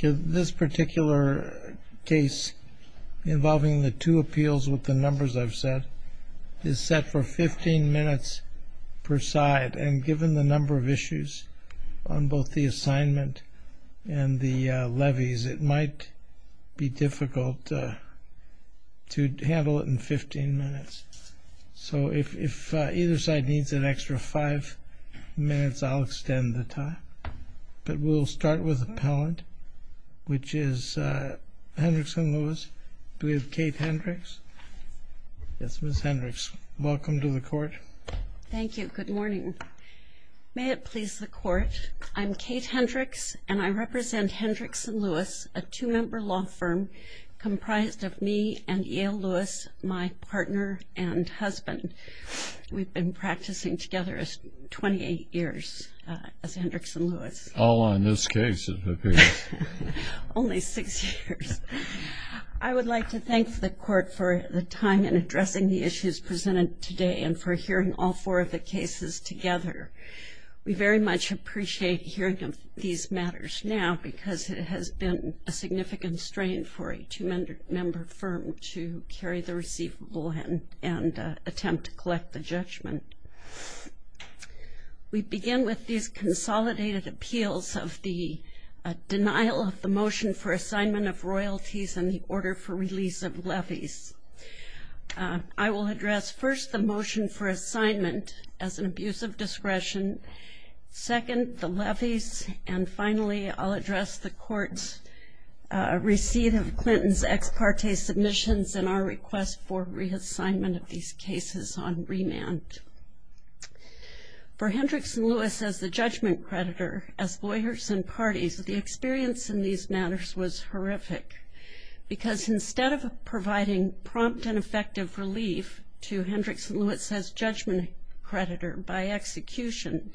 This particular case involving the two appeals with the numbers I've set, is set for 15 minutes per side, and given the number of issues on both the assignment and the levies, it might be difficult to handle it in 15 minutes. So if either side needs an extra five minutes, I'll extend the time. But we'll start with appellant, which is Hendricks & Lewis, with Kate Hendricks. Yes, Ms. Hendricks, welcome to the court. Thank you. Good morning. May it please the court, I'm Kate Hendricks, and I represent Hendricks & Lewis, a two-member law firm comprised of me and Yale Lewis, my partner and husband. We've been practicing together 28 years as Hendricks & Lewis. All on this case, it appears. Only six years. I would like to thank the court for the time in addressing the issues presented today and for hearing all four of the cases together. We very much appreciate hearing of these matters now because it has been a significant strain for a two-member firm to carry the receivable and attempt to collect the judgment. We begin with these consolidated appeals of the denial of the motion for assignment of royalties and the order for release of levies. I will address first the motion for assignment as an abuse of discretion, second the levies, and finally, I'll address the court's receipt of Clinton's ex parte submissions and our request for reassignment of these cases on remand. For Hendricks & Lewis as the judgment creditor, as lawyers and parties, the experience in these matters was horrific. Because instead of providing prompt and effective relief to Hendricks & Lewis as judgment creditor by execution,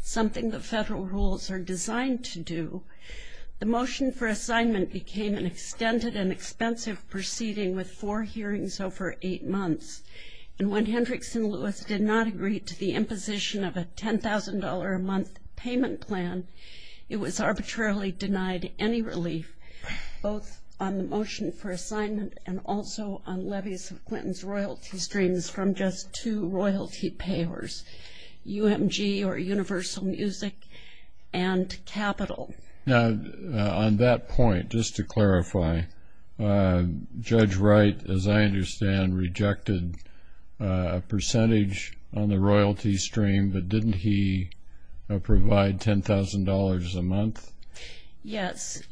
something that federal rules are designed to do, the motion for assignment became an extended and expensive proceeding with four hearings over eight months. And when Hendricks & Lewis did not agree to the imposition of a $10,000 a month payment plan, it was arbitrarily denied any relief, both on the motion for assignment and also on levies of Clinton's royalty streams from just two royalty payers, UMG or Universal Music and Capital. Now, on that point, just to clarify, Judge Wright, as I understand, rejected a percentage on the royalty stream, but didn't he provide $10,000 a month? Yes,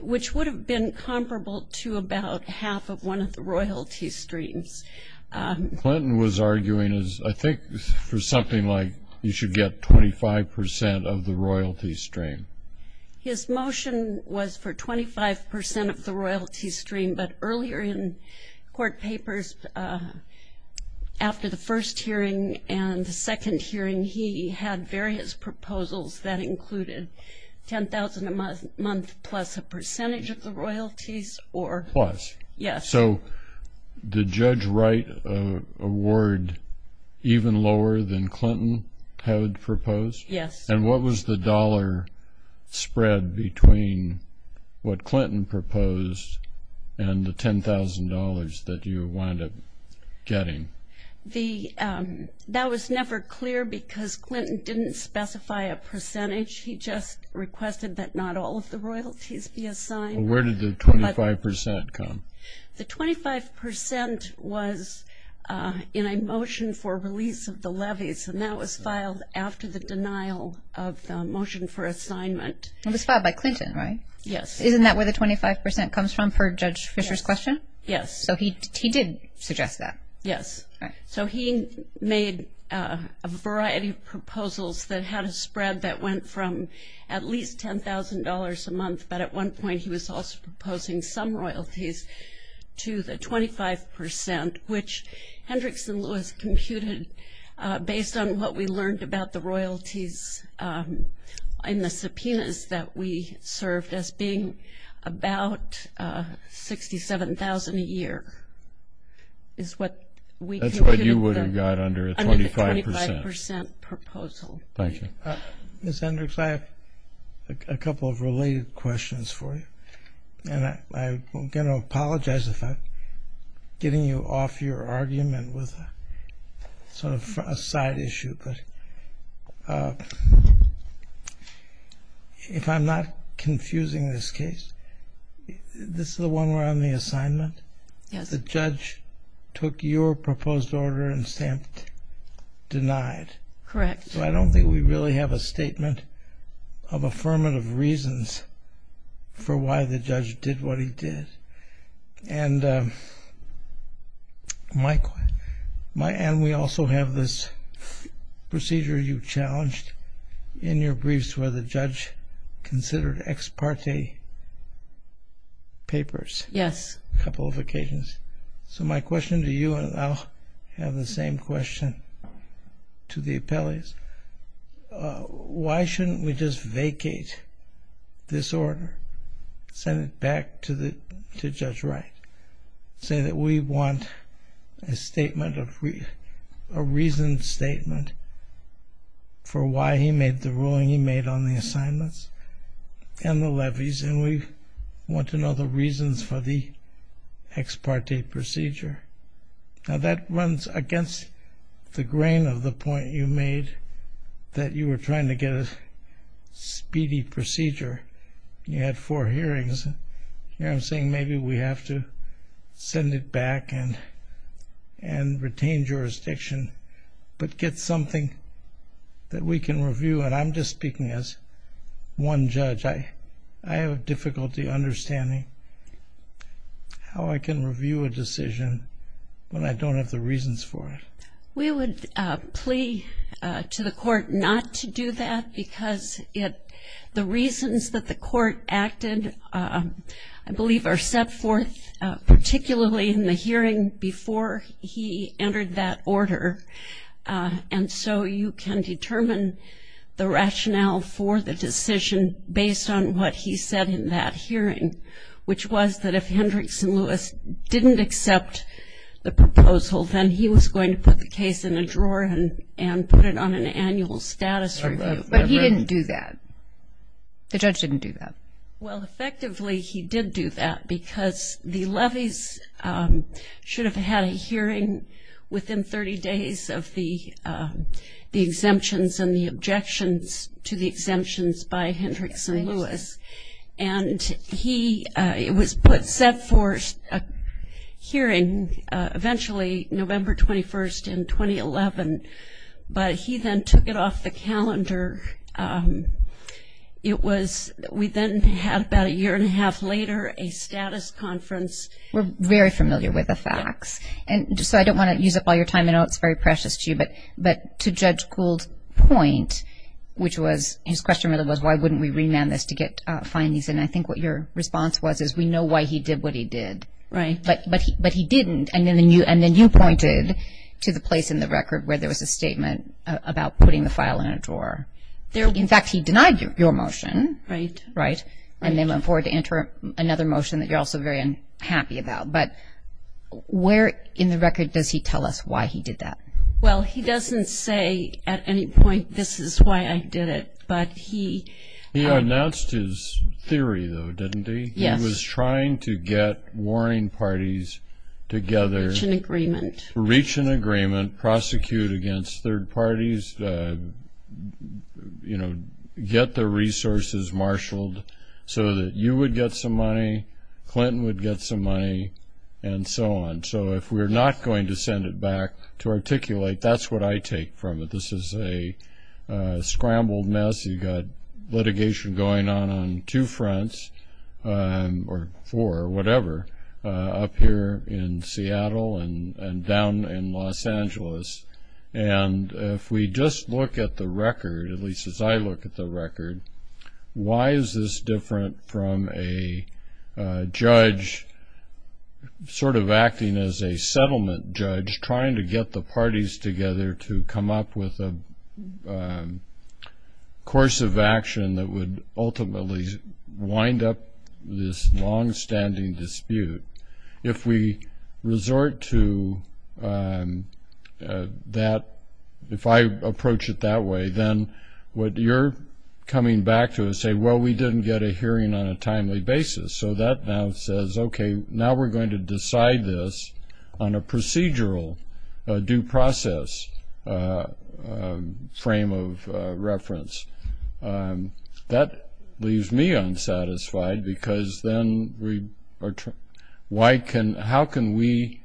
which would have been comparable to about half of one of the royalty streams. Clinton was arguing, I think, for something like you should get 25% of the royalty stream. His motion was for 25% of the royalty stream, but earlier in court papers, after the first hearing and the second hearing, he had various proposals that included $10,000 a month plus a percentage of the royalties. Plus? Yes. So did Judge Wright award even lower than Clinton had proposed? Yes. And what was the dollar spread between what Clinton proposed and the $10,000 that you wound up getting? That was never clear because Clinton didn't specify a percentage. He just requested that not all of the royalties be assigned. Well, where did the 25% come? The 25% was in a motion for release of the levies, and that was filed after the denial of the motion for assignment. It was filed by Clinton, right? Yes. Isn't that where the 25% comes from, per Judge Fisher's question? Yes. So he did suggest that? Yes. All right. So he made a variety of proposals that had a spread that went from at least $10,000 a month, but at one point he was also proposing some royalties to the 25%, which Hendricks and Lewis computed based on what we learned about the royalties in the subpoenas that we served as being about $67,000 a year is what we computed. That's what you would have got under a 25%? Under the 25% proposal. Thank you. Ms. Hendricks, I have a couple of related questions for you, and I'm going to apologize if I'm getting you off your argument with sort of a side issue, but if I'm not confusing this case, this is the one around the assignment? Yes. The judge took your proposed order and stamped denied. Correct. So I don't think we really have a statement of affirmative reasons for why the judge did what he did. And we also have this procedure you challenged in your briefs where the judge considered ex parte papers a couple of occasions. Yes. So my question to you, and I'll have the same question to the appellees, why shouldn't we just vacate this order, send it back to Judge Wright, say that we want a reasoned statement for why he made the ruling he made on the assignments and the levies and we want to know the reasons for the ex parte procedure? Now, that runs against the grain of the point you made that you were trying to get a speedy procedure. You had four hearings. Here I'm saying maybe we have to send it back and retain jurisdiction, but get something that we can review. And I'm just speaking as one judge. I have difficulty understanding how I can review a decision when I don't have the reasons for it. We would plea to the court not to do that because the reasons that the court acted, I believe, are set forth particularly in the hearing before he entered that order. And so you can determine the rationale for the decision based on what he said in that hearing, which was that if Hendricks and Lewis didn't accept the proposal, then he was going to put the case in a drawer and put it on an annual status review. But he didn't do that. The judge didn't do that. Well, effectively he did do that because the levees should have had a hearing within 30 days of the exemptions and the objections to the exemptions by Hendricks and Lewis. And he was set forth a hearing eventually November 21st in 2011, but he then took it off the calendar. It was, we then had about a year and a half later a status conference. We're very familiar with the facts. And so I don't want to use up all your time. I know it's very precious to you. But to Judge Kuhl's point, which was, his question really was, why wouldn't we remand this to get findings? And I think what your response was is we know why he did what he did. Right. But he didn't, and then you pointed to the place in the record where there was a statement about putting the file in a drawer. In fact, he denied your motion. Right. Right. And then went forward to enter another motion that you're also very unhappy about. But where in the record does he tell us why he did that? Well, he doesn't say at any point, this is why I did it. But he. He announced his theory, though, didn't he? Yes. He was trying to get warning parties together. Reach an agreement. Reach an agreement, prosecute against third parties, get the resources marshaled so that you would get some money, Clinton would get some money, and so on. So if we're not going to send it back to articulate, that's what I take from it. This is a scrambled mess. You've got litigation going on on two fronts, or four, whatever, up here in Seattle and down in Los Angeles. And if we just look at the record, at least as I look at the record, why is this different from a judge sort of acting as a settlement judge, trying to get the parties together to come up with a course of action that would ultimately wind up this longstanding dispute? If we resort to that, if I approach it that way, then what you're coming back to is saying, well, we didn't get a hearing on a timely basis. So that now says, okay, now we're going to decide this on a procedural, due process frame of reference. That leaves me unsatisfied, because then how can we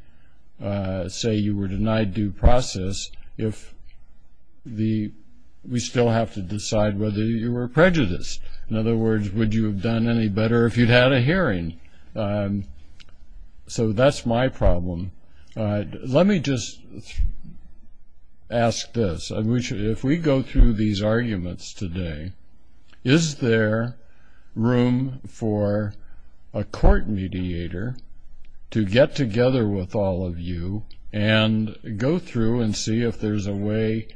say you were denied due process if we still have to decide whether you were prejudiced? In other words, would you have done any better if you'd had a hearing? So that's my problem. Let me just ask this. If we go through these arguments today, is there room for a court mediator to get together with all of you and go through and see if there's a way,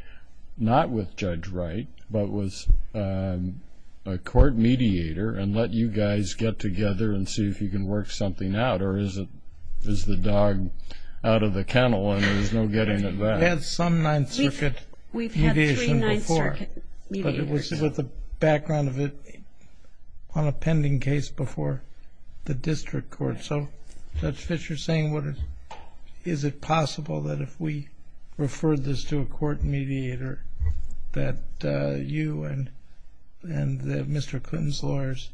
not with Judge Wright, but with a court mediator and let you guys get together and see if you can work something out? Or is the dog out of the kennel and there's no getting it back? We've had some Ninth Circuit mediation before, but it was with the background of it on a pending case before the district court. So Judge Fischer is saying, is it possible that if we referred this to a court mediator that you and Mr. Clinton's lawyers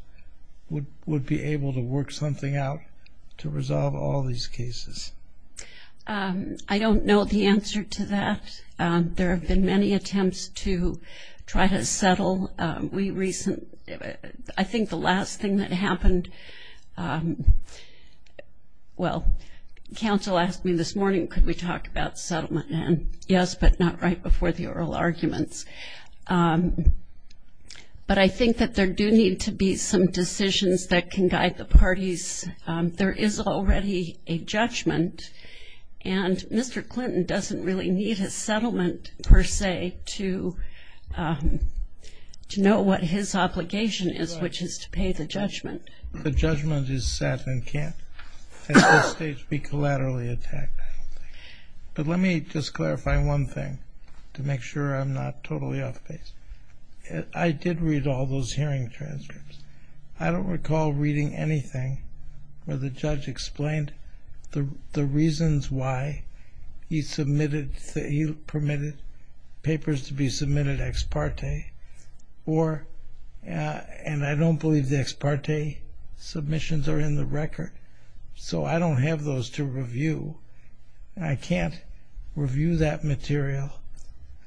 would be able to work something out to resolve all these cases? I don't know the answer to that. There have been many attempts to try to settle. I think the last thing that happened, well, counsel asked me this morning could we talk about settlement, and yes, but not right before the oral arguments. But I think that there do need to be some decisions that can guide the parties. There is already a judgment, and Mr. Clinton doesn't really need a settlement per se to know what his obligation is, which is to pay the judgment. The judgment is set and can't at this stage be collaterally attacked, I don't think. But let me just clarify one thing to make sure I'm not totally off base. I did read all those hearing transcripts. I don't recall reading anything where the judge explained the reasons why he submitted, he permitted papers to be submitted ex parte, and I don't believe the ex parte submissions are in the record. So I don't have those to review. I can't review that material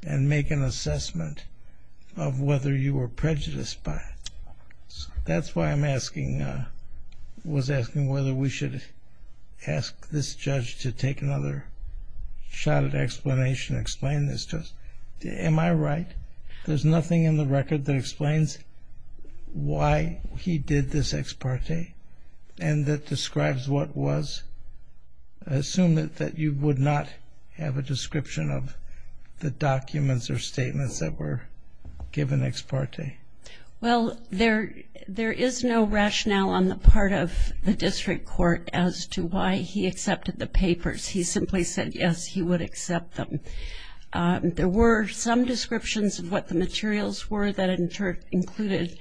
and make an assessment of whether you were prejudiced by it. That's why I was asking whether we should ask this judge to take another shot at explanation, explain this to us. Am I right? There's nothing in the record that explains why he did this ex parte and that describes what was assumed that you would not have a description of the documents or statements that were given ex parte. Well, there is no rationale on the part of the district court as to why he accepted the papers. He simply said, yes, he would accept them. There were some descriptions of what the materials were that included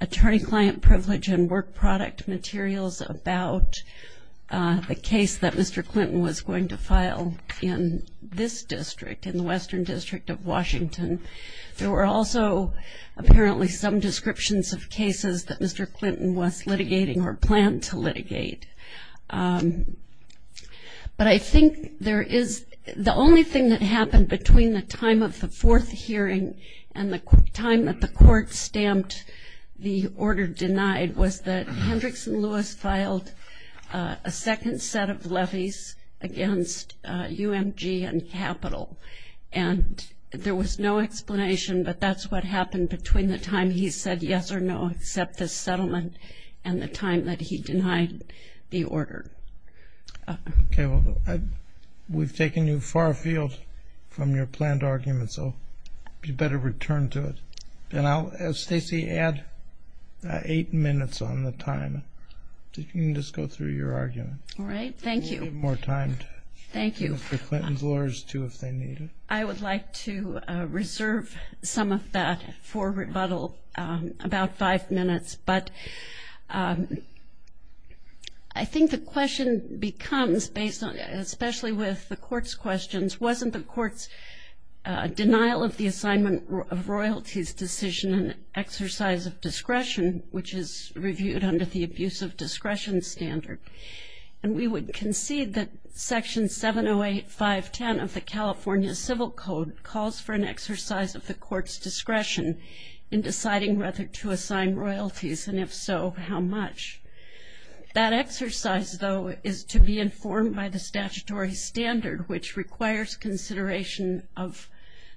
attorney-client privilege and work product materials about the case that Mr. Clinton was going to file in this district, in the Western District of Washington. There were also apparently some descriptions of cases that Mr. Clinton was litigating or planned to litigate. But I think the only thing that happened between the time of the fourth hearing and the time that the court stamped the order denied was that Hendricks and Lewis filed a second set of levies against UMG and Capital. And there was no explanation, but that's what happened between the time he said yes or no, accept this settlement, and the time that he denied the order. Okay, well, we've taken you far afield from your planned argument, so you better return to it. And I'll have Stacey add eight minutes on the time. You can just go through your argument. All right. Thank you. We'll give more time for Clinton's lawyers, too, if they need it. I would like to reserve some of that for rebuttal, about five minutes. But I think the question becomes, especially with the court's questions, wasn't the court's denial of the assignment of royalties decision an exercise of discretion, which is reviewed under the abuse of discretion standard? And we would concede that Section 708.510 of the California Civil Code calls for an exercise of the court's discretion in deciding whether to assign royalties, and if so, how much. That exercise, though, is to be informed by the statutory standard, which requires consideration of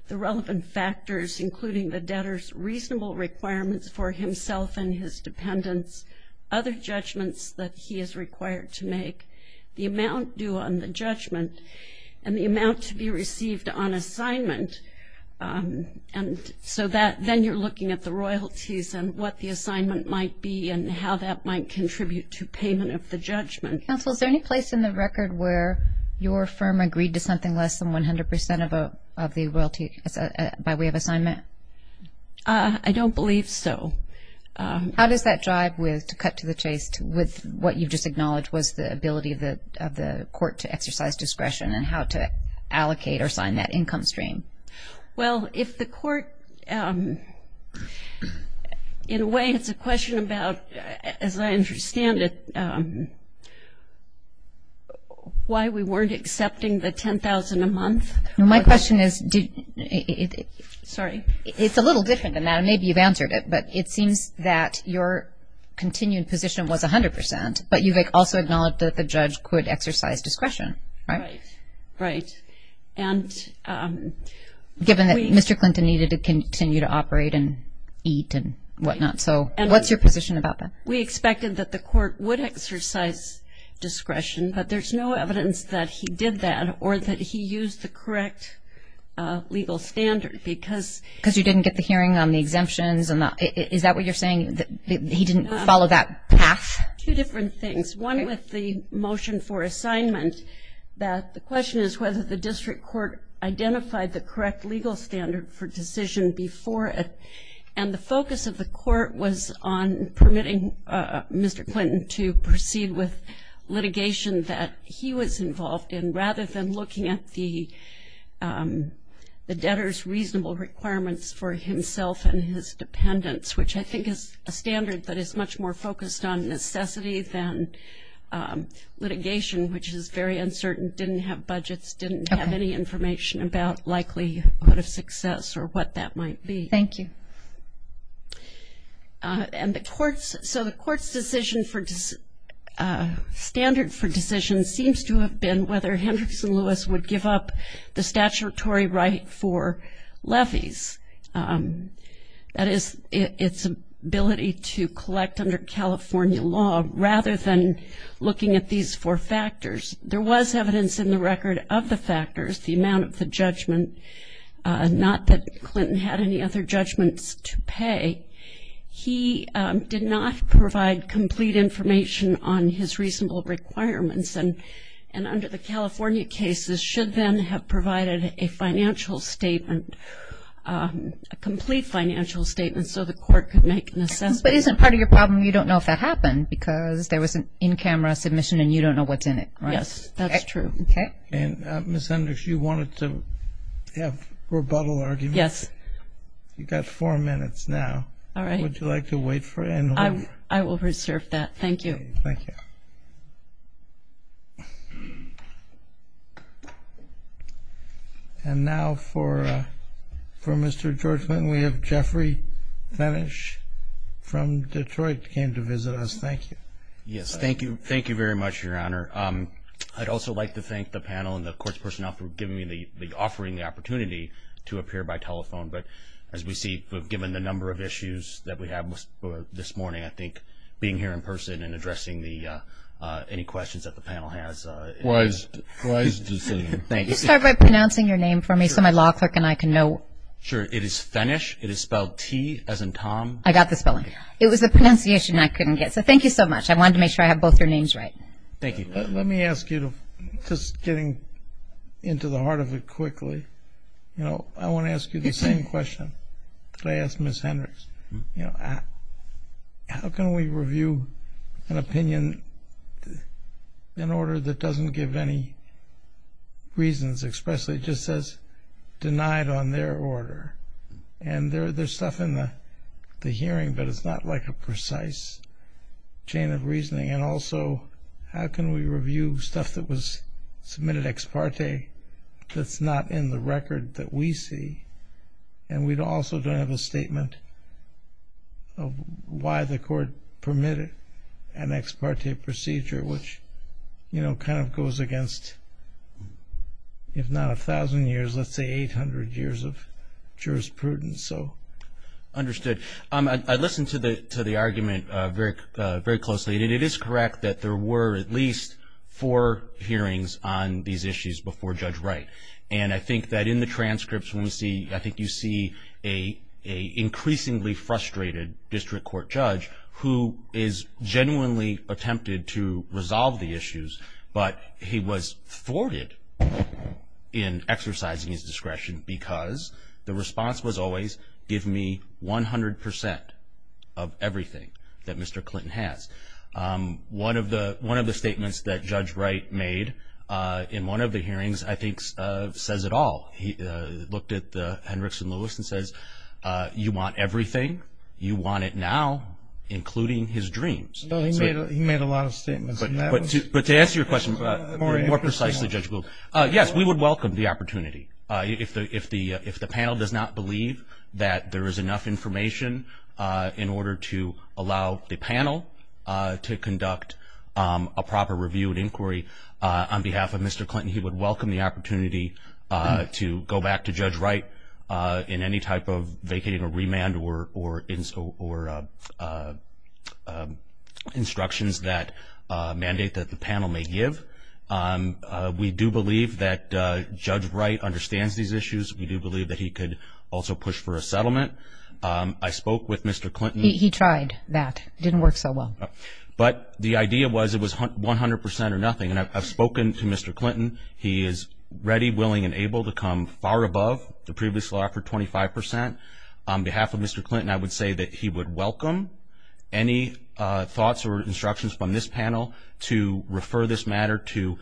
the relevant factors, including the debtor's reasonable requirements for himself and his dependents, other judgments that he is required to make, the amount due on the judgment, and the amount to be received on assignment. And so then you're looking at the royalties and what the assignment might be and how that might contribute to payment of the judgment. Counsel, is there any place in the record where your firm agreed to something less than 100% of the royalty by way of assignment? I don't believe so. How does that drive with, to cut to the chase, with what you just acknowledged was the ability of the court to exercise discretion and how to allocate or assign that income stream? Well, if the court, in a way, it's a question about, as I understand it, why we weren't accepting the $10,000 a month. My question is, it's a little different than that. Maybe you've answered it, but it seems that your continued position was 100%, but you've also acknowledged that the judge could exercise discretion, right? Right, right. Given that Mr. Clinton needed to continue to operate and eat and whatnot, so what's your position about that? We expected that the court would exercise discretion, but there's no evidence that he did that or that he used the correct legal standard. Because you didn't get the hearing on the exemptions? Is that what you're saying, that he didn't follow that path? Two different things. One with the motion for assignment, that the question is whether the district court identified the correct legal standard for decision before it. And the focus of the court was on permitting Mr. Clinton to proceed with litigation that he was involved in, rather than looking at the debtor's reasonable requirements for himself and his dependents, which I think is a standard that is much more focused on necessity than litigation, which is very uncertain, didn't have budgets, didn't have any information about likelihood of success or what that might be. Thank you. So the court's standard for decision seems to have been whether Hendricks and Lewis would give up the statutory right for levies. That is, its ability to collect under California law, rather than looking at these four factors. There was evidence in the record of the factors, the amount of the judgment, not that Clinton had any other judgments to pay. He did not provide complete information on his reasonable requirements and under the California cases should then have provided a financial statement, a complete financial statement so the court could make an assessment. But isn't part of your problem you don't know if that happened because there was an in-camera submission and you don't know what's in it, right? Yes, that's true. And Ms. Hendricks, you wanted to have rebuttal arguments? Yes. You've got four minutes now. All right. Would you like to wait for it? I will reserve that. Thank you. Thank you. And now for Mr. George Clinton, we have Jeffrey Vanish from Detroit came to visit us. Thank you. Yes, thank you. Thank you very much, Your Honor. I'd also like to thank the panel and the court's personnel for giving me the offering the opportunity to appear by telephone. But as we see, given the number of issues that we have this morning, I think being here in person and addressing any questions that the panel has. Wise decision. Could you start by pronouncing your name for me so my law clerk and I can know? Sure. It is Vanish. It is spelled T as in Tom. I got the spelling. It was a pronunciation I couldn't get. So thank you so much. I wanted to make sure I had both your names right. Thank you. Let me ask you, just getting into the heart of it quickly, I want to ask you the same question that I asked Ms. Hendricks. How can we review an opinion in order that doesn't give any reasons, especially just as denied on their order? And there's stuff in the hearing, but it's not like a precise chain of reasoning. And also, how can we review stuff that was submitted ex parte that's not in the record that we see? And we also don't have a statement of why the court permitted an ex parte procedure, which kind of goes against, if not 1,000 years, let's say 800 years of jurisprudence. Understood. I listened to the argument very closely, and it is correct that there were at least four hearings on these issues before Judge Wright. And I think that in the transcripts, I think you see an increasingly frustrated district court judge who is genuinely attempted to resolve the issues, but he was thwarted in exercising his discretion because the response was always, give me 100 percent of everything that Mr. Clinton has. One of the statements that Judge Wright made in one of the hearings, I think, says it all. He looked at Hendricks and Lewis and says, you want everything, you want it now, including his dreams. He made a lot of statements. But to answer your question more precisely, Judge, yes, we would welcome the opportunity. If the panel does not believe that there is enough information in order to allow the panel to conduct a proper review and inquiry, on behalf of Mr. Clinton, he would welcome the opportunity to go back to Judge Wright in any type of vacating or remand or instructions that mandate that the panel may give. We do believe that Judge Wright understands these issues. We do believe that he could also push for a settlement. I spoke with Mr. Clinton. He tried that. It didn't work so well. But the idea was it was 100 percent or nothing. And I've spoken to Mr. Clinton. He is ready, willing, and able to come far above the previous law for 25 percent. On behalf of Mr. Clinton, I would say that he would welcome any thoughts or instructions from this panel to refer this matter to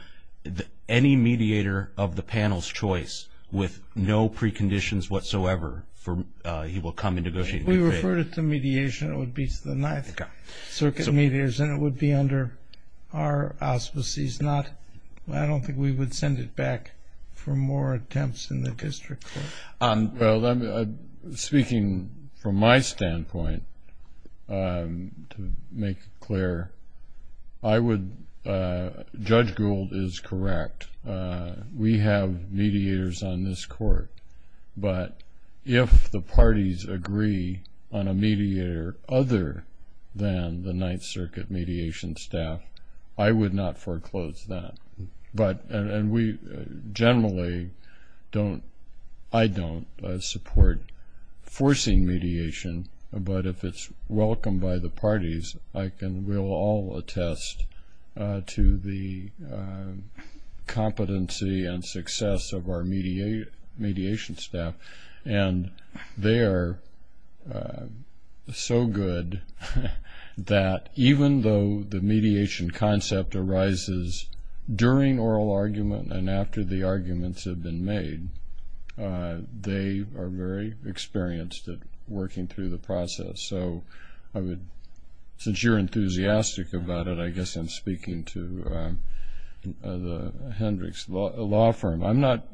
any mediator of the panel's choice with no preconditions whatsoever for he will come and negotiate. If we refer it to mediation, it would be to the Ninth Circuit mediators, and it would be under our auspices. I don't think we would send it back for more attempts in the district court. Speaking from my standpoint, to make it clear, Judge Gould is correct. We have mediators on this court. But if the parties agree on a mediator other than the Ninth Circuit mediation staff, I would not foreclose that. And we generally don't, I don't, support forcing mediation. But if it's welcomed by the parties, we'll all attest to the competency and success of our mediation staff. And they are so good that even though the mediation concept arises during oral argument and after the arguments have been made, they are very experienced at working through the process. So I would, since you're enthusiastic about it, I guess I'm speaking to Hendricks Law Firm. I'm not,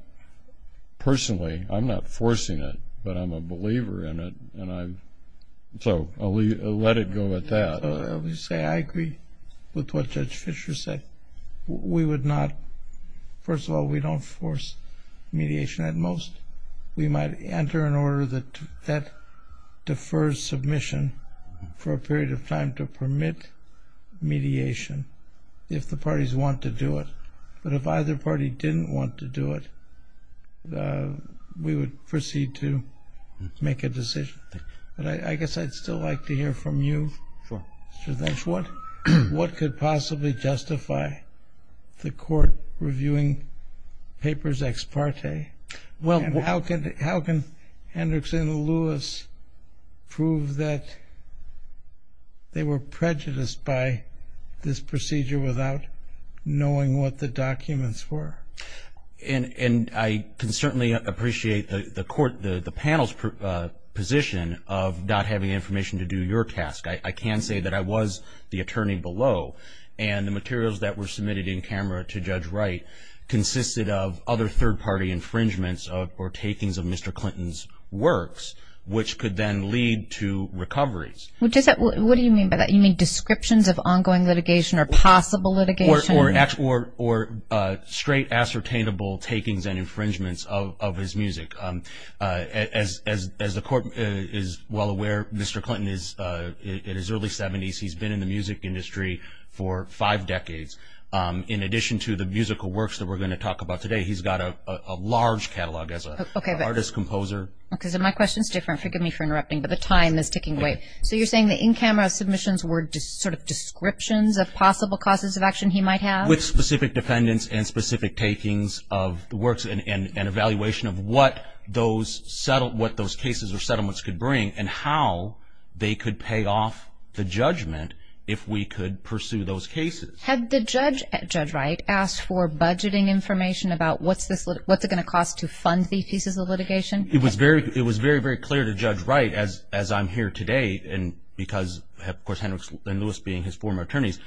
personally, I'm not forcing it, but I'm a believer in it. So I'll let it go at that. I agree with what Judge Fischer said. We would not, first of all, we don't force mediation at most. We might enter an order that defers submission for a period of time to permit mediation if the parties want to do it. But if either party didn't want to do it, we would proceed to make a decision. But I guess I'd still like to hear from you, Mr. Dench. What could possibly justify the court reviewing papers ex parte? Well, how can Hendricks and Lewis prove that they were prejudiced by this procedure without knowing what the documents were? And I can certainly appreciate the panel's position of not having information to do your task. I can say that I was the attorney below, and the materials that were submitted in camera to Judge Wright consisted of other third-party infringements or takings of Mr. Clinton's works, which could then lead to recoveries. What do you mean by that? You mean descriptions of ongoing litigation or possible litigation? Or straight ascertainable takings and infringements of his music. As the court is well aware, Mr. Clinton is in his early 70s. He's been in the music industry for five decades. In addition to the musical works that we're going to talk about today, he's got a large catalog as an artist-composer. Okay, so my question is different. Forgive me for interrupting, but the time is ticking away. So you're saying the in-camera submissions were just sort of descriptions of possible causes of action he might have? With specific defendants and specific takings of the works and evaluation of what those cases or settlements could bring and how they could pay off the judgment if we could pursue those cases. Had the judge, Judge Wright, asked for budgeting information about what's it going to cost to fund these pieces of litigation? It was very, very clear to Judge Wright, as I'm here today, and because of course Hendricks and Lewis being his former attorneys,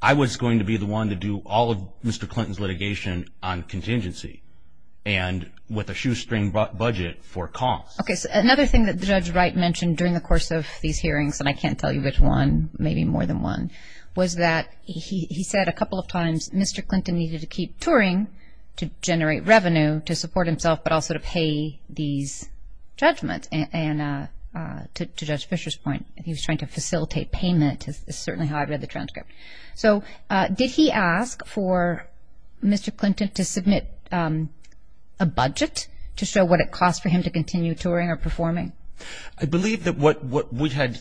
I was going to be the one to do all of Mr. Clinton's litigation on contingency and with a shoestring budget for costs. Okay, so another thing that Judge Wright mentioned during the course of these hearings, and I can't tell you which one, maybe more than one, was that he said a couple of times Mr. Clinton needed to keep touring to generate revenue to support himself but also to pay these judgments. And to Judge Fisher's point, he was trying to facilitate payment, is certainly how I read the transcript. So did he ask for Mr. Clinton to submit a budget to show what it cost for him to continue touring or performing? I believe that what we had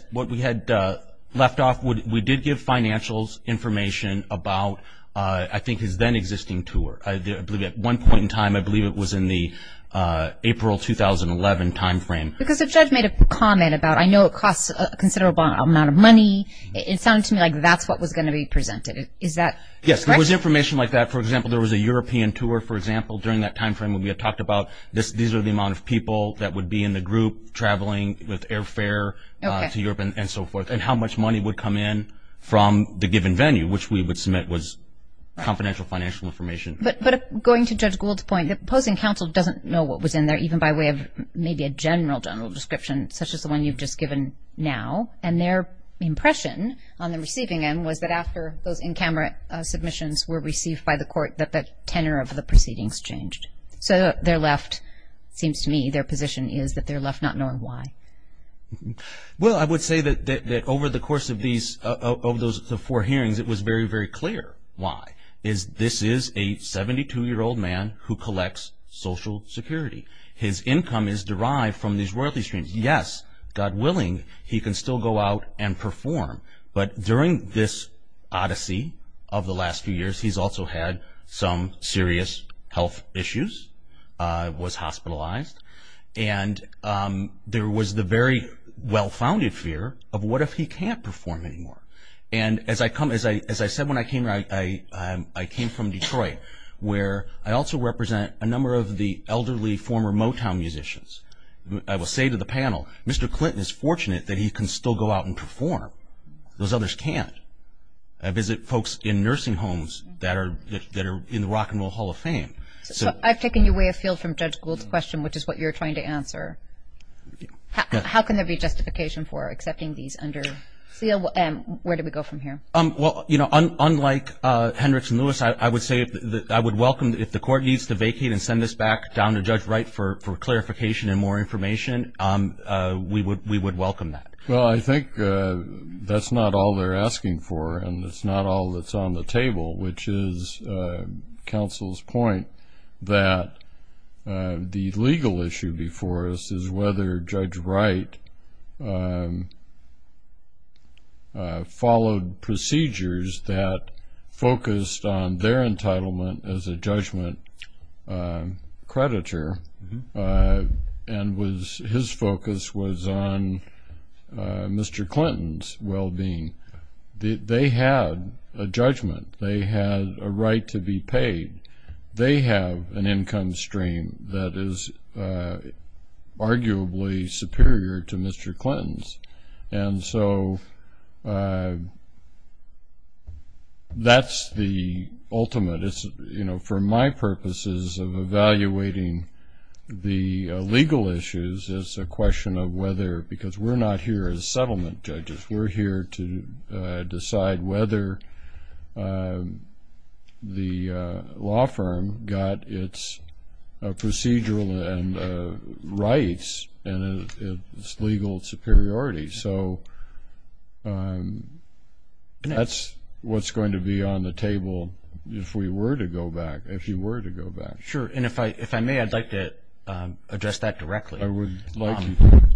left off, we did give financials information about, I think, his then existing tour. I believe at one point in time, I believe it was in the April 2011 time frame. Because the judge made a comment about I know it costs a considerable amount of money. It sounded to me like that's what was going to be presented. Is that correct? Yes, there was information like that. For example, there was a European tour, for example, during that time frame when we had talked about these are the amount of people that would be in the group traveling with airfare to Europe and so forth, and how much money would come in from the given venue, which we would submit was confidential financial information. But going to Judge Gould's point, the opposing counsel doesn't know what was in there even by way of maybe a general, general description such as the one you've just given now. And their impression on the receiving end was that after those in-camera submissions were received by the court that the tenor of the proceedings changed. So their left, it seems to me, their position is that they're left not knowing why. Well, I would say that over the course of these, of those four hearings, it was very, very clear why. This is a 72-year-old man who collects Social Security. His income is derived from these royalty streams. Yes, God willing, he can still go out and perform. But during this odyssey of the last few years, he's also had some serious health issues, was hospitalized, and there was the very well-founded fear of what if he can't perform anymore? And as I said when I came here, I came from Detroit, where I also represent a number of the elderly former Motown musicians. I will say to the panel, Mr. Clinton is fortunate that he can still go out and perform. Those others can't. I visit folks in nursing homes that are in the Rock and Roll Hall of Fame. So I've taken away a field from Judge Gould's question, which is what you're trying to answer. How can there be justification for accepting these under seal? Where do we go from here? Well, you know, unlike Hendricks and Lewis, I would say that I would welcome, if the court needs to vacate and send this back down to Judge Wright for clarification and more information, we would welcome that. Well, I think that's not all they're asking for, and it's not all that's on the table, which is counsel's point that the legal issue before us is whether Judge Wright followed procedures that focused on their entitlement as a judgment creditor, and his focus was on Mr. Clinton's well-being. They had a judgment. They had a right to be paid. They have an income stream that is arguably superior to Mr. Clinton's. And so that's the ultimate. For my purposes of evaluating the legal issues, it's a question of whether, because we're not here as settlement judges. We're here to decide whether the law firm got its procedural rights and its legal superiority. So that's what's going to be on the table if we were to go back, if you were to go back. Sure. And if I may, I'd like to address that directly. I would like to.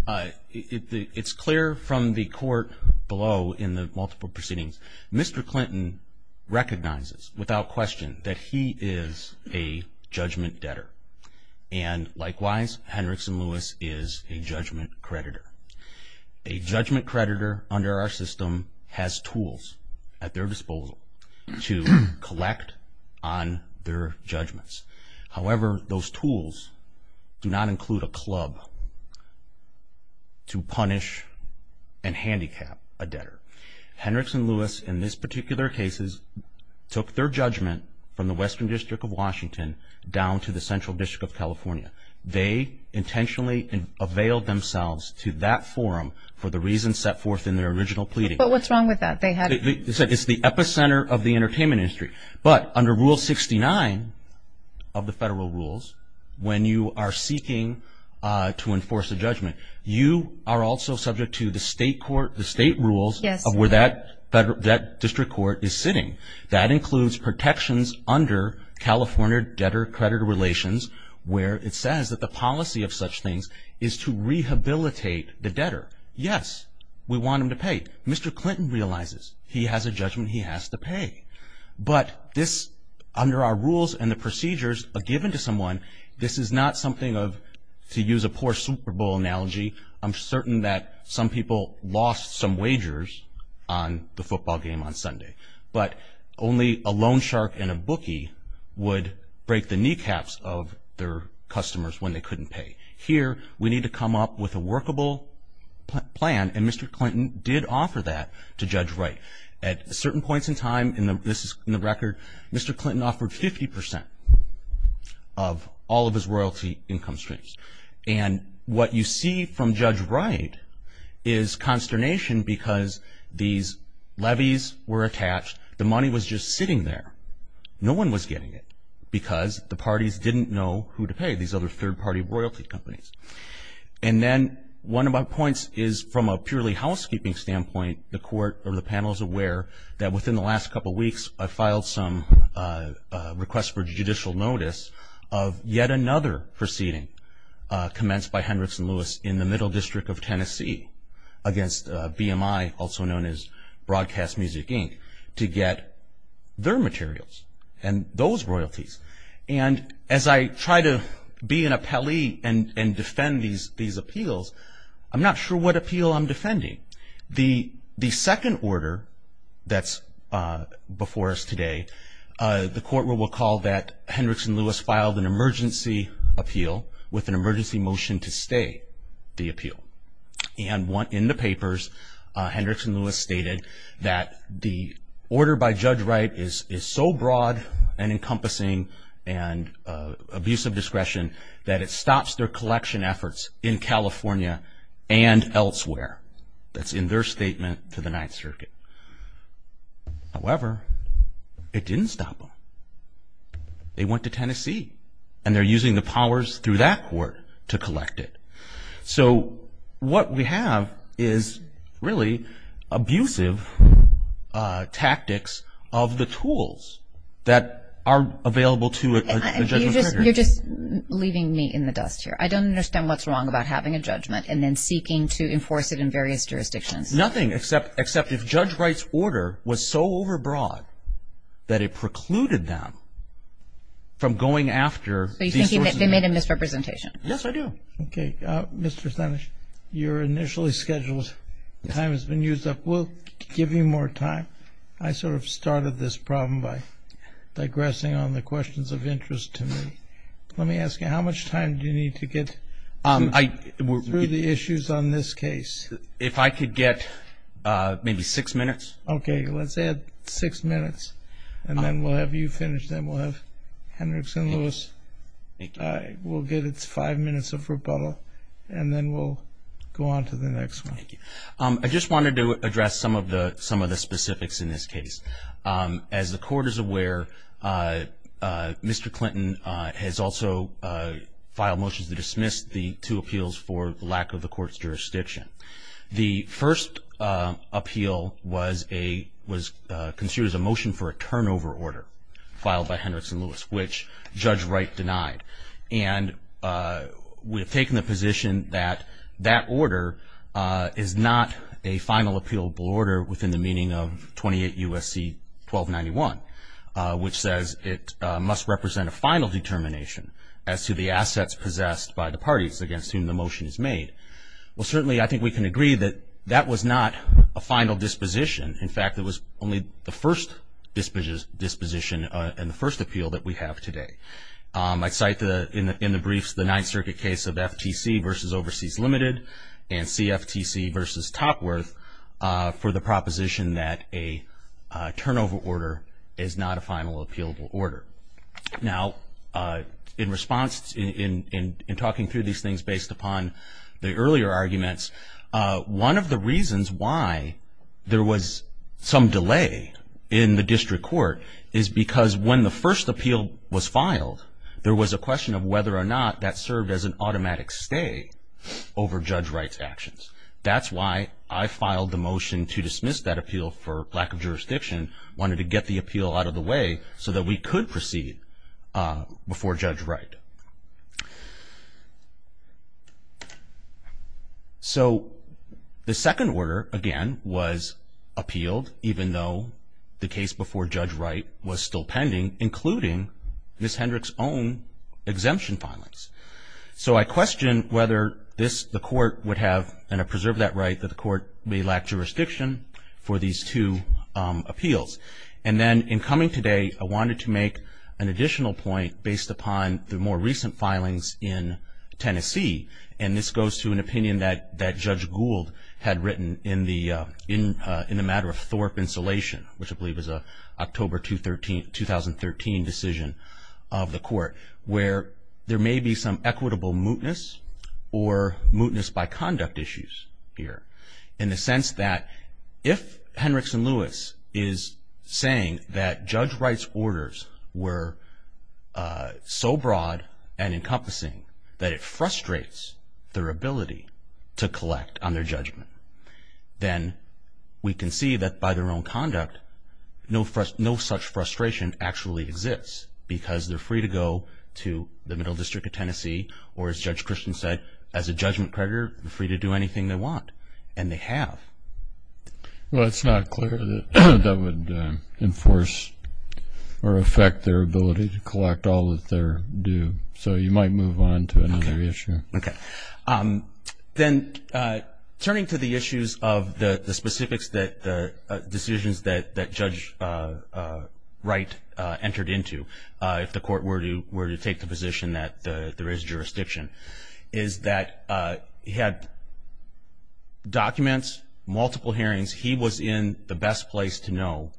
It's clear from the court below in the multiple proceedings, Mr. Clinton recognizes without question that he is a judgment debtor. And likewise, Henriksen Lewis is a judgment creditor. A judgment creditor under our system has tools at their disposal to collect on their judgments. However, those tools do not include a club to punish and handicap a debtor. Henriksen Lewis, in this particular case, took their judgment from the Western District of Washington down to the Central District of California. They intentionally availed themselves to that forum for the reasons set forth in their original pleading. But what's wrong with that? It's the epicenter of the entertainment industry. But under Rule 69 of the federal rules, when you are seeking to enforce a judgment, you are also subject to the state rules of where that district court is sitting. That includes protections under California debtor-creditor relations where it says that the policy of such things is to rehabilitate the debtor. Yes, we want him to pay. Mr. Clinton realizes he has a judgment he has to pay. But this, under our rules and the procedures given to someone, this is not something of, to use a poor Super Bowl analogy, I'm certain that some people lost some wagers on the football game on Sunday. But only a loan shark and a bookie would break the kneecaps of their customers when they couldn't pay. Here, we need to come up with a workable plan, and Mr. Clinton did offer that to Judge Wright. At certain points in time, and this is in the record, Mr. Clinton offered 50 percent of all of his royalty income streams. And what you see from Judge Wright is consternation because these levies were attached. The money was just sitting there. No one was getting it because the parties didn't know who to pay, these other third-party royalty companies. And then one of my points is from a purely housekeeping standpoint, the court or the panel is aware that within the last couple weeks, I filed some requests for judicial notice of yet another proceeding commenced by Henrikson Lewis in the Middle District of Tennessee against BMI, also known as Broadcast Music, Inc., to get their materials and those royalties. And as I try to be an appellee and defend these appeals, I'm not sure what appeal I'm defending. The second order that's before us today, the court will recall that Henrikson Lewis filed an emergency appeal with an emergency motion to stay the appeal. And in the papers, Henrikson Lewis stated that the order by Judge Wright is so broad and encompassing and abuse of discretion that it stops their collection efforts in California and elsewhere. That's in their statement to the Ninth Circuit. However, it didn't stop them. They went to Tennessee, and they're using the powers through that court to collect it. So what we have is really abusive tactics of the tools that are available to a judgment. You're just leaving me in the dust here. I don't understand what's wrong about having a judgment and then seeking to enforce it in various jurisdictions. Nothing except if Judge Wright's order was so overbroad that it precluded them from going after these sources. So you're thinking that they made a misrepresentation. Yes, I do. Okay. Mr. Sanich, your initially scheduled time has been used up. We'll give you more time. I sort of started this problem by digressing on the questions of interest to me. Let me ask you, how much time do you need to get through the issues on this case? If I could get maybe six minutes. Okay, let's add six minutes, and then we'll have you finish. Then we'll have Hendricks and Lewis. We'll give it five minutes of rebuttal, and then we'll go on to the next one. Thank you. I just wanted to address some of the specifics in this case. As the Court is aware, Mr. Clinton has also filed motions to dismiss the two appeals for lack of the Court's jurisdiction. The first appeal was considered as a motion for a turnover order filed by Hendricks and Lewis, which Judge Wright denied. And we have taken the position that that order is not a final appealable order within the meaning of 28 U.S.C. 1291, which says it must represent a final determination as to the assets possessed by the parties against whom the motion is made. Well, certainly I think we can agree that that was not a final disposition. In fact, it was only the first disposition and the first appeal that we have today. I cite in the briefs the Ninth Circuit case of FTC versus Overseas Limited and CFTC versus Topworth for the proposition that a turnover order is not a final appealable order. Now, in response, in talking through these things based upon the earlier arguments, one of the reasons why there was some delay in the District Court is because when the first appeal was filed, there was a question of whether or not that served as an automatic stay over Judge Wright's actions. That's why I filed the motion to dismiss that appeal for lack of jurisdiction, wanted to get the appeal out of the way so that we could proceed before Judge Wright. So the second order, again, was appealed, even though the case before Judge Wright was still pending, including Ms. Hendrick's own exemption filings. So I question whether this, the Court would have, and I preserve that right, that the Court may lack jurisdiction for these two appeals. And then in coming today, I wanted to make an additional point based upon the more recent filings in Tennessee, and this goes to an opinion that Judge Gould had written in the matter of Thorpe Insulation, which I believe is an October 2013 decision of the Court, where there may be some equitable mootness or mootness by conduct issues here, in the sense that if Hendricks and Lewis is saying that Judge Wright's orders were so broad and encompassing that it frustrates their ability to collect on their judgment, then we can see that by their own conduct, no such frustration actually exists, because they're free to go to the Middle District of Tennessee, or as Judge Christian said, as a judgment creditor, they're free to do anything they want, and they have. Well, it's not clear that that would enforce or affect their ability to collect all that they're due, so you might move on to another issue. Okay. Then turning to the issues of the specifics that the decisions that Judge Wright entered into, if the Court were to take the position that there is jurisdiction, is that he had documents, multiple hearings, he was in the best place to know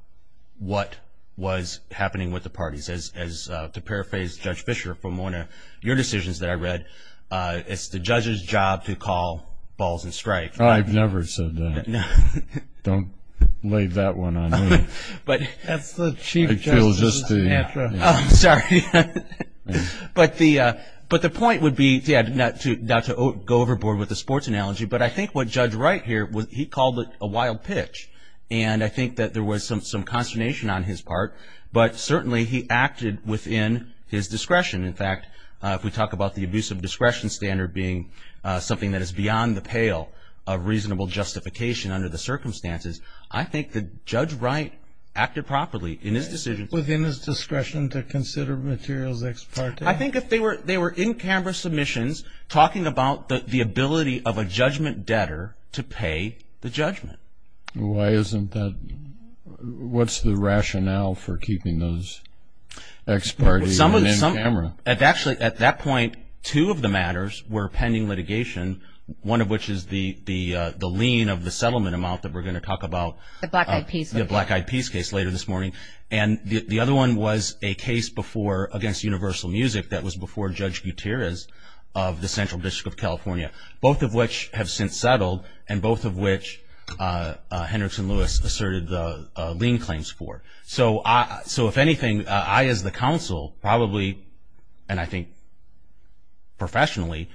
what was happening with the parties, as to paraphrase Judge Fischer from one of your decisions that I read, it's the judge's job to call balls and strikes. Oh, I've never said that. Don't lay that one on me. That's the chief justice mantra. But the point would be, not to go overboard with the sports analogy, but I think what Judge Wright here, he called it a wild pitch, and I think that there was some consternation on his part, but certainly he acted within his discretion. In fact, if we talk about the abuse of discretion standard being something that is beyond the pale of reasonable justification under the circumstances, I think that Judge Wright acted properly in his decision. Within his discretion to consider materials ex parte? I think if they were in-camera submissions talking about the ability of a judgment debtor to pay the judgment. Why isn't that, what's the rationale for keeping those ex parte and in-camera? Actually, at that point, two of the matters were pending litigation, one of which is the lien of the settlement amount that we're going to talk about, the Black Eyed Peace case later this morning, and the other one was a case against Universal Music that was before Judge Gutierrez of the Central District of California, both of which have since settled and both of which Hendrickson Lewis asserted the lien claims for. So if anything, I as the counsel probably, and I think professionally,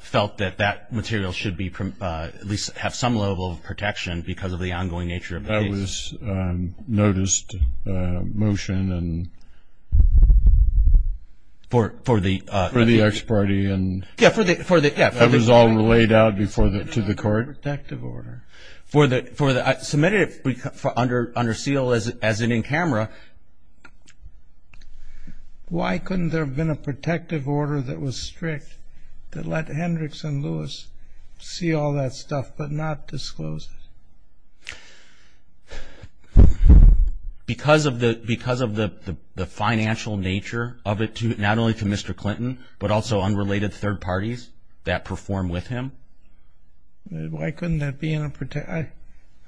felt that that material should at least have some level of protection because of the ongoing nature of the case. That was noticed motion and? For the? For the ex parte and? Yeah, for the, yeah. That was all laid out before the, to the court? It was a protective order. For the, I submitted it under seal as an in-camera. Why couldn't there have been a protective order that was strict that let Hendrickson Lewis see all that stuff but not disclose it? Because of the, because of the financial nature of it to, not only to Mr. Clinton, but also unrelated third parties that perform with him? Why couldn't that be in a,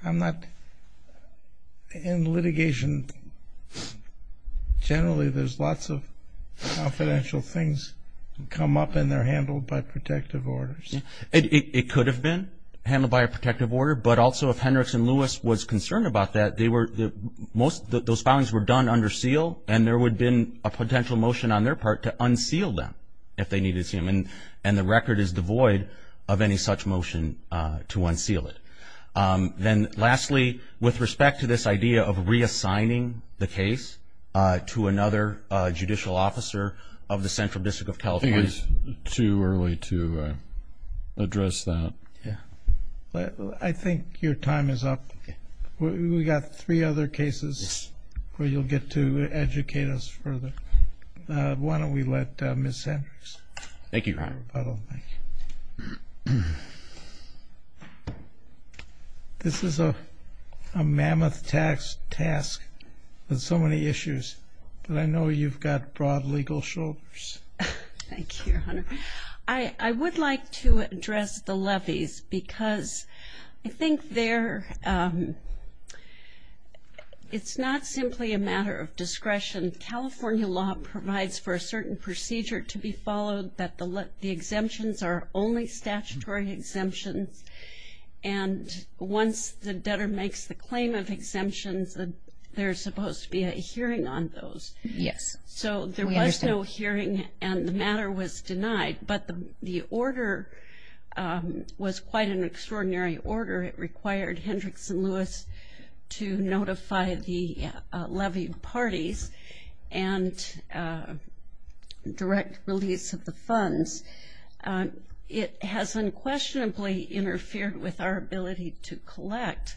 I'm not, in litigation, generally there's lots of confidential things come up and they're handled by protective orders. It could have been handled by a protective order, but also if Hendrickson Lewis was concerned about that, they were, most of those filings were done under seal and there would have been a potential motion on their part to unseal them if they needed to see them and the record is devoid of any such motion to unseal it. Then lastly, with respect to this idea of reassigning the case to another judicial officer of the Central District of California? I think it's too early to address that. I think your time is up. We've got three other cases where you'll get to educate us further. Why don't we let Ms. Hendricks. Thank you, Your Honor. This is a mammoth task with so many issues, but I know you've got broad legal shoulders. Thank you, Your Honor. I would like to address the levies because I think they're, it's not simply a matter of discretion. California law provides for a certain procedure to be followed that the exemptions are only statutory exemptions and once the debtor makes the claim of exemptions, there's supposed to be a hearing on those. Yes. So there was no hearing and the matter was denied, but the order was quite an extraordinary order. It required Hendricks and Lewis to notify the levy parties and direct release of the funds. It has unquestionably interfered with our ability to collect.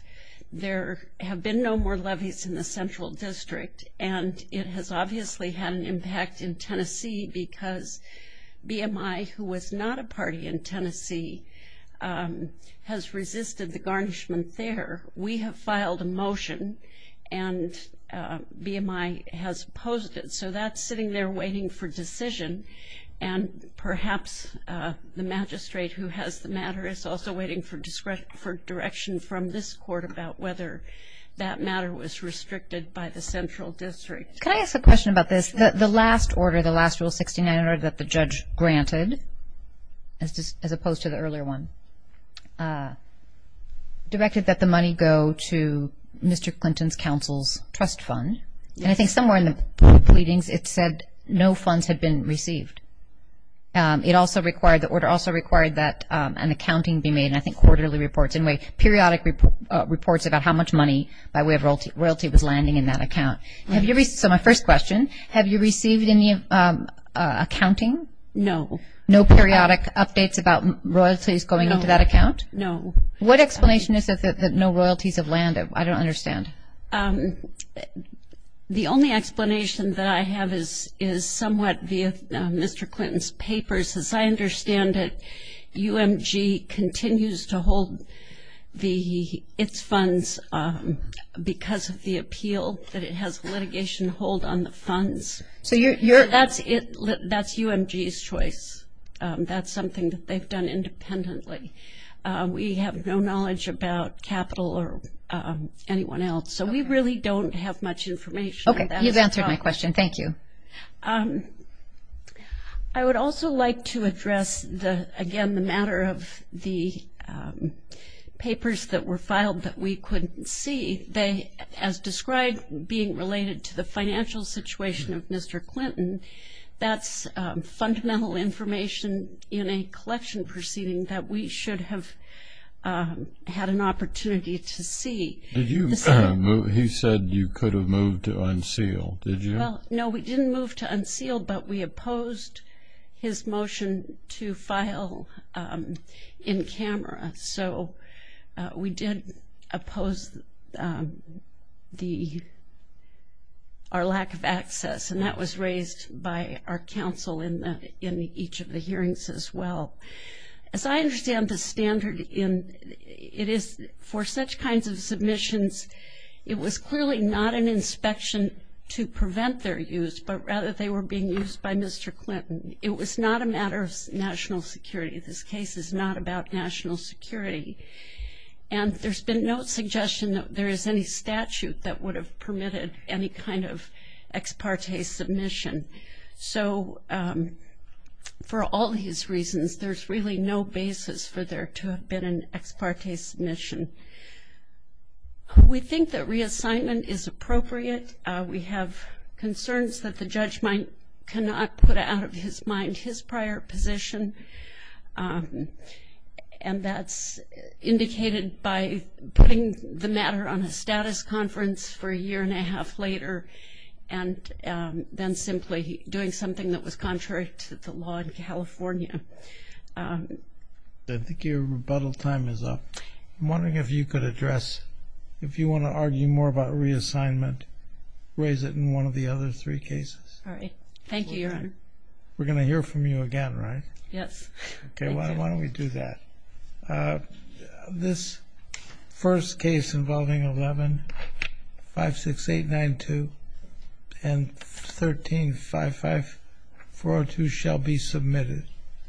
There have been no more levies in the Central District and it has obviously had an impact in Tennessee because BMI, who was not a party in Tennessee, has resisted the garnishment there. We have filed a motion and BMI has opposed it. So that's sitting there waiting for decision and perhaps the magistrate who has the matter is also waiting for direction from this court about whether that matter was restricted by the Central District. Can I ask a question about this? The last order, the last Rule 69 order that the judge granted, as opposed to the earlier one, directed that the money go to Mr. Clinton's counsel's trust fund and I think somewhere in the pleadings it said no funds had been received. It also required that an accounting be made and I think quarterly reports, in a way, periodic reports about how much money by way of royalty was landing in that account. So my first question, have you received any accounting? No. No periodic updates about royalties going into that account? No. What explanation is there that no royalties have landed? I don't understand. The only explanation that I have is somewhat via Mr. Clinton's papers. As I understand it, UMG continues to hold its funds because of the appeal that it has litigation hold on the funds. That's UMG's choice. That's something that they've done independently. We have no knowledge about capital or anyone else. So we really don't have much information. Okay, you've answered my question. Thank you. I would also like to address, again, the matter of the papers that were filed that we couldn't see. As described, being related to the financial situation of Mr. Clinton, that's fundamental information in a collection proceeding that we should have had an opportunity to see. He said you could have moved to unseal, did you? Well, no, we didn't move to unseal, but we opposed his motion to file in camera. So we did oppose our lack of access, and that was raised by our counsel in each of the hearings as well. As I understand the standard for such kinds of submissions, it was clearly not an inspection to prevent their use, but rather they were being used by Mr. Clinton. It was not a matter of national security. This case is not about national security. And there's been no suggestion that there is any statute that would have permitted any kind of ex parte submission. So for all these reasons, there's really no basis for there to have been an ex parte submission. We think that reassignment is appropriate. We have concerns that the judge might not put out of his mind his prior position, and that's indicated by putting the matter on a status conference for a year and a half later and then simply doing something that was contrary to the law in California. I think your rebuttal time is up. I'm wondering if you could address, if you want to argue more about reassignment, raise it in one of the other three cases. All right. Thank you, Your Honor. We're going to hear from you again, right? Yes. Okay. Why don't we do that? This first case involving 11-56892 and 13-55402 shall be submitted.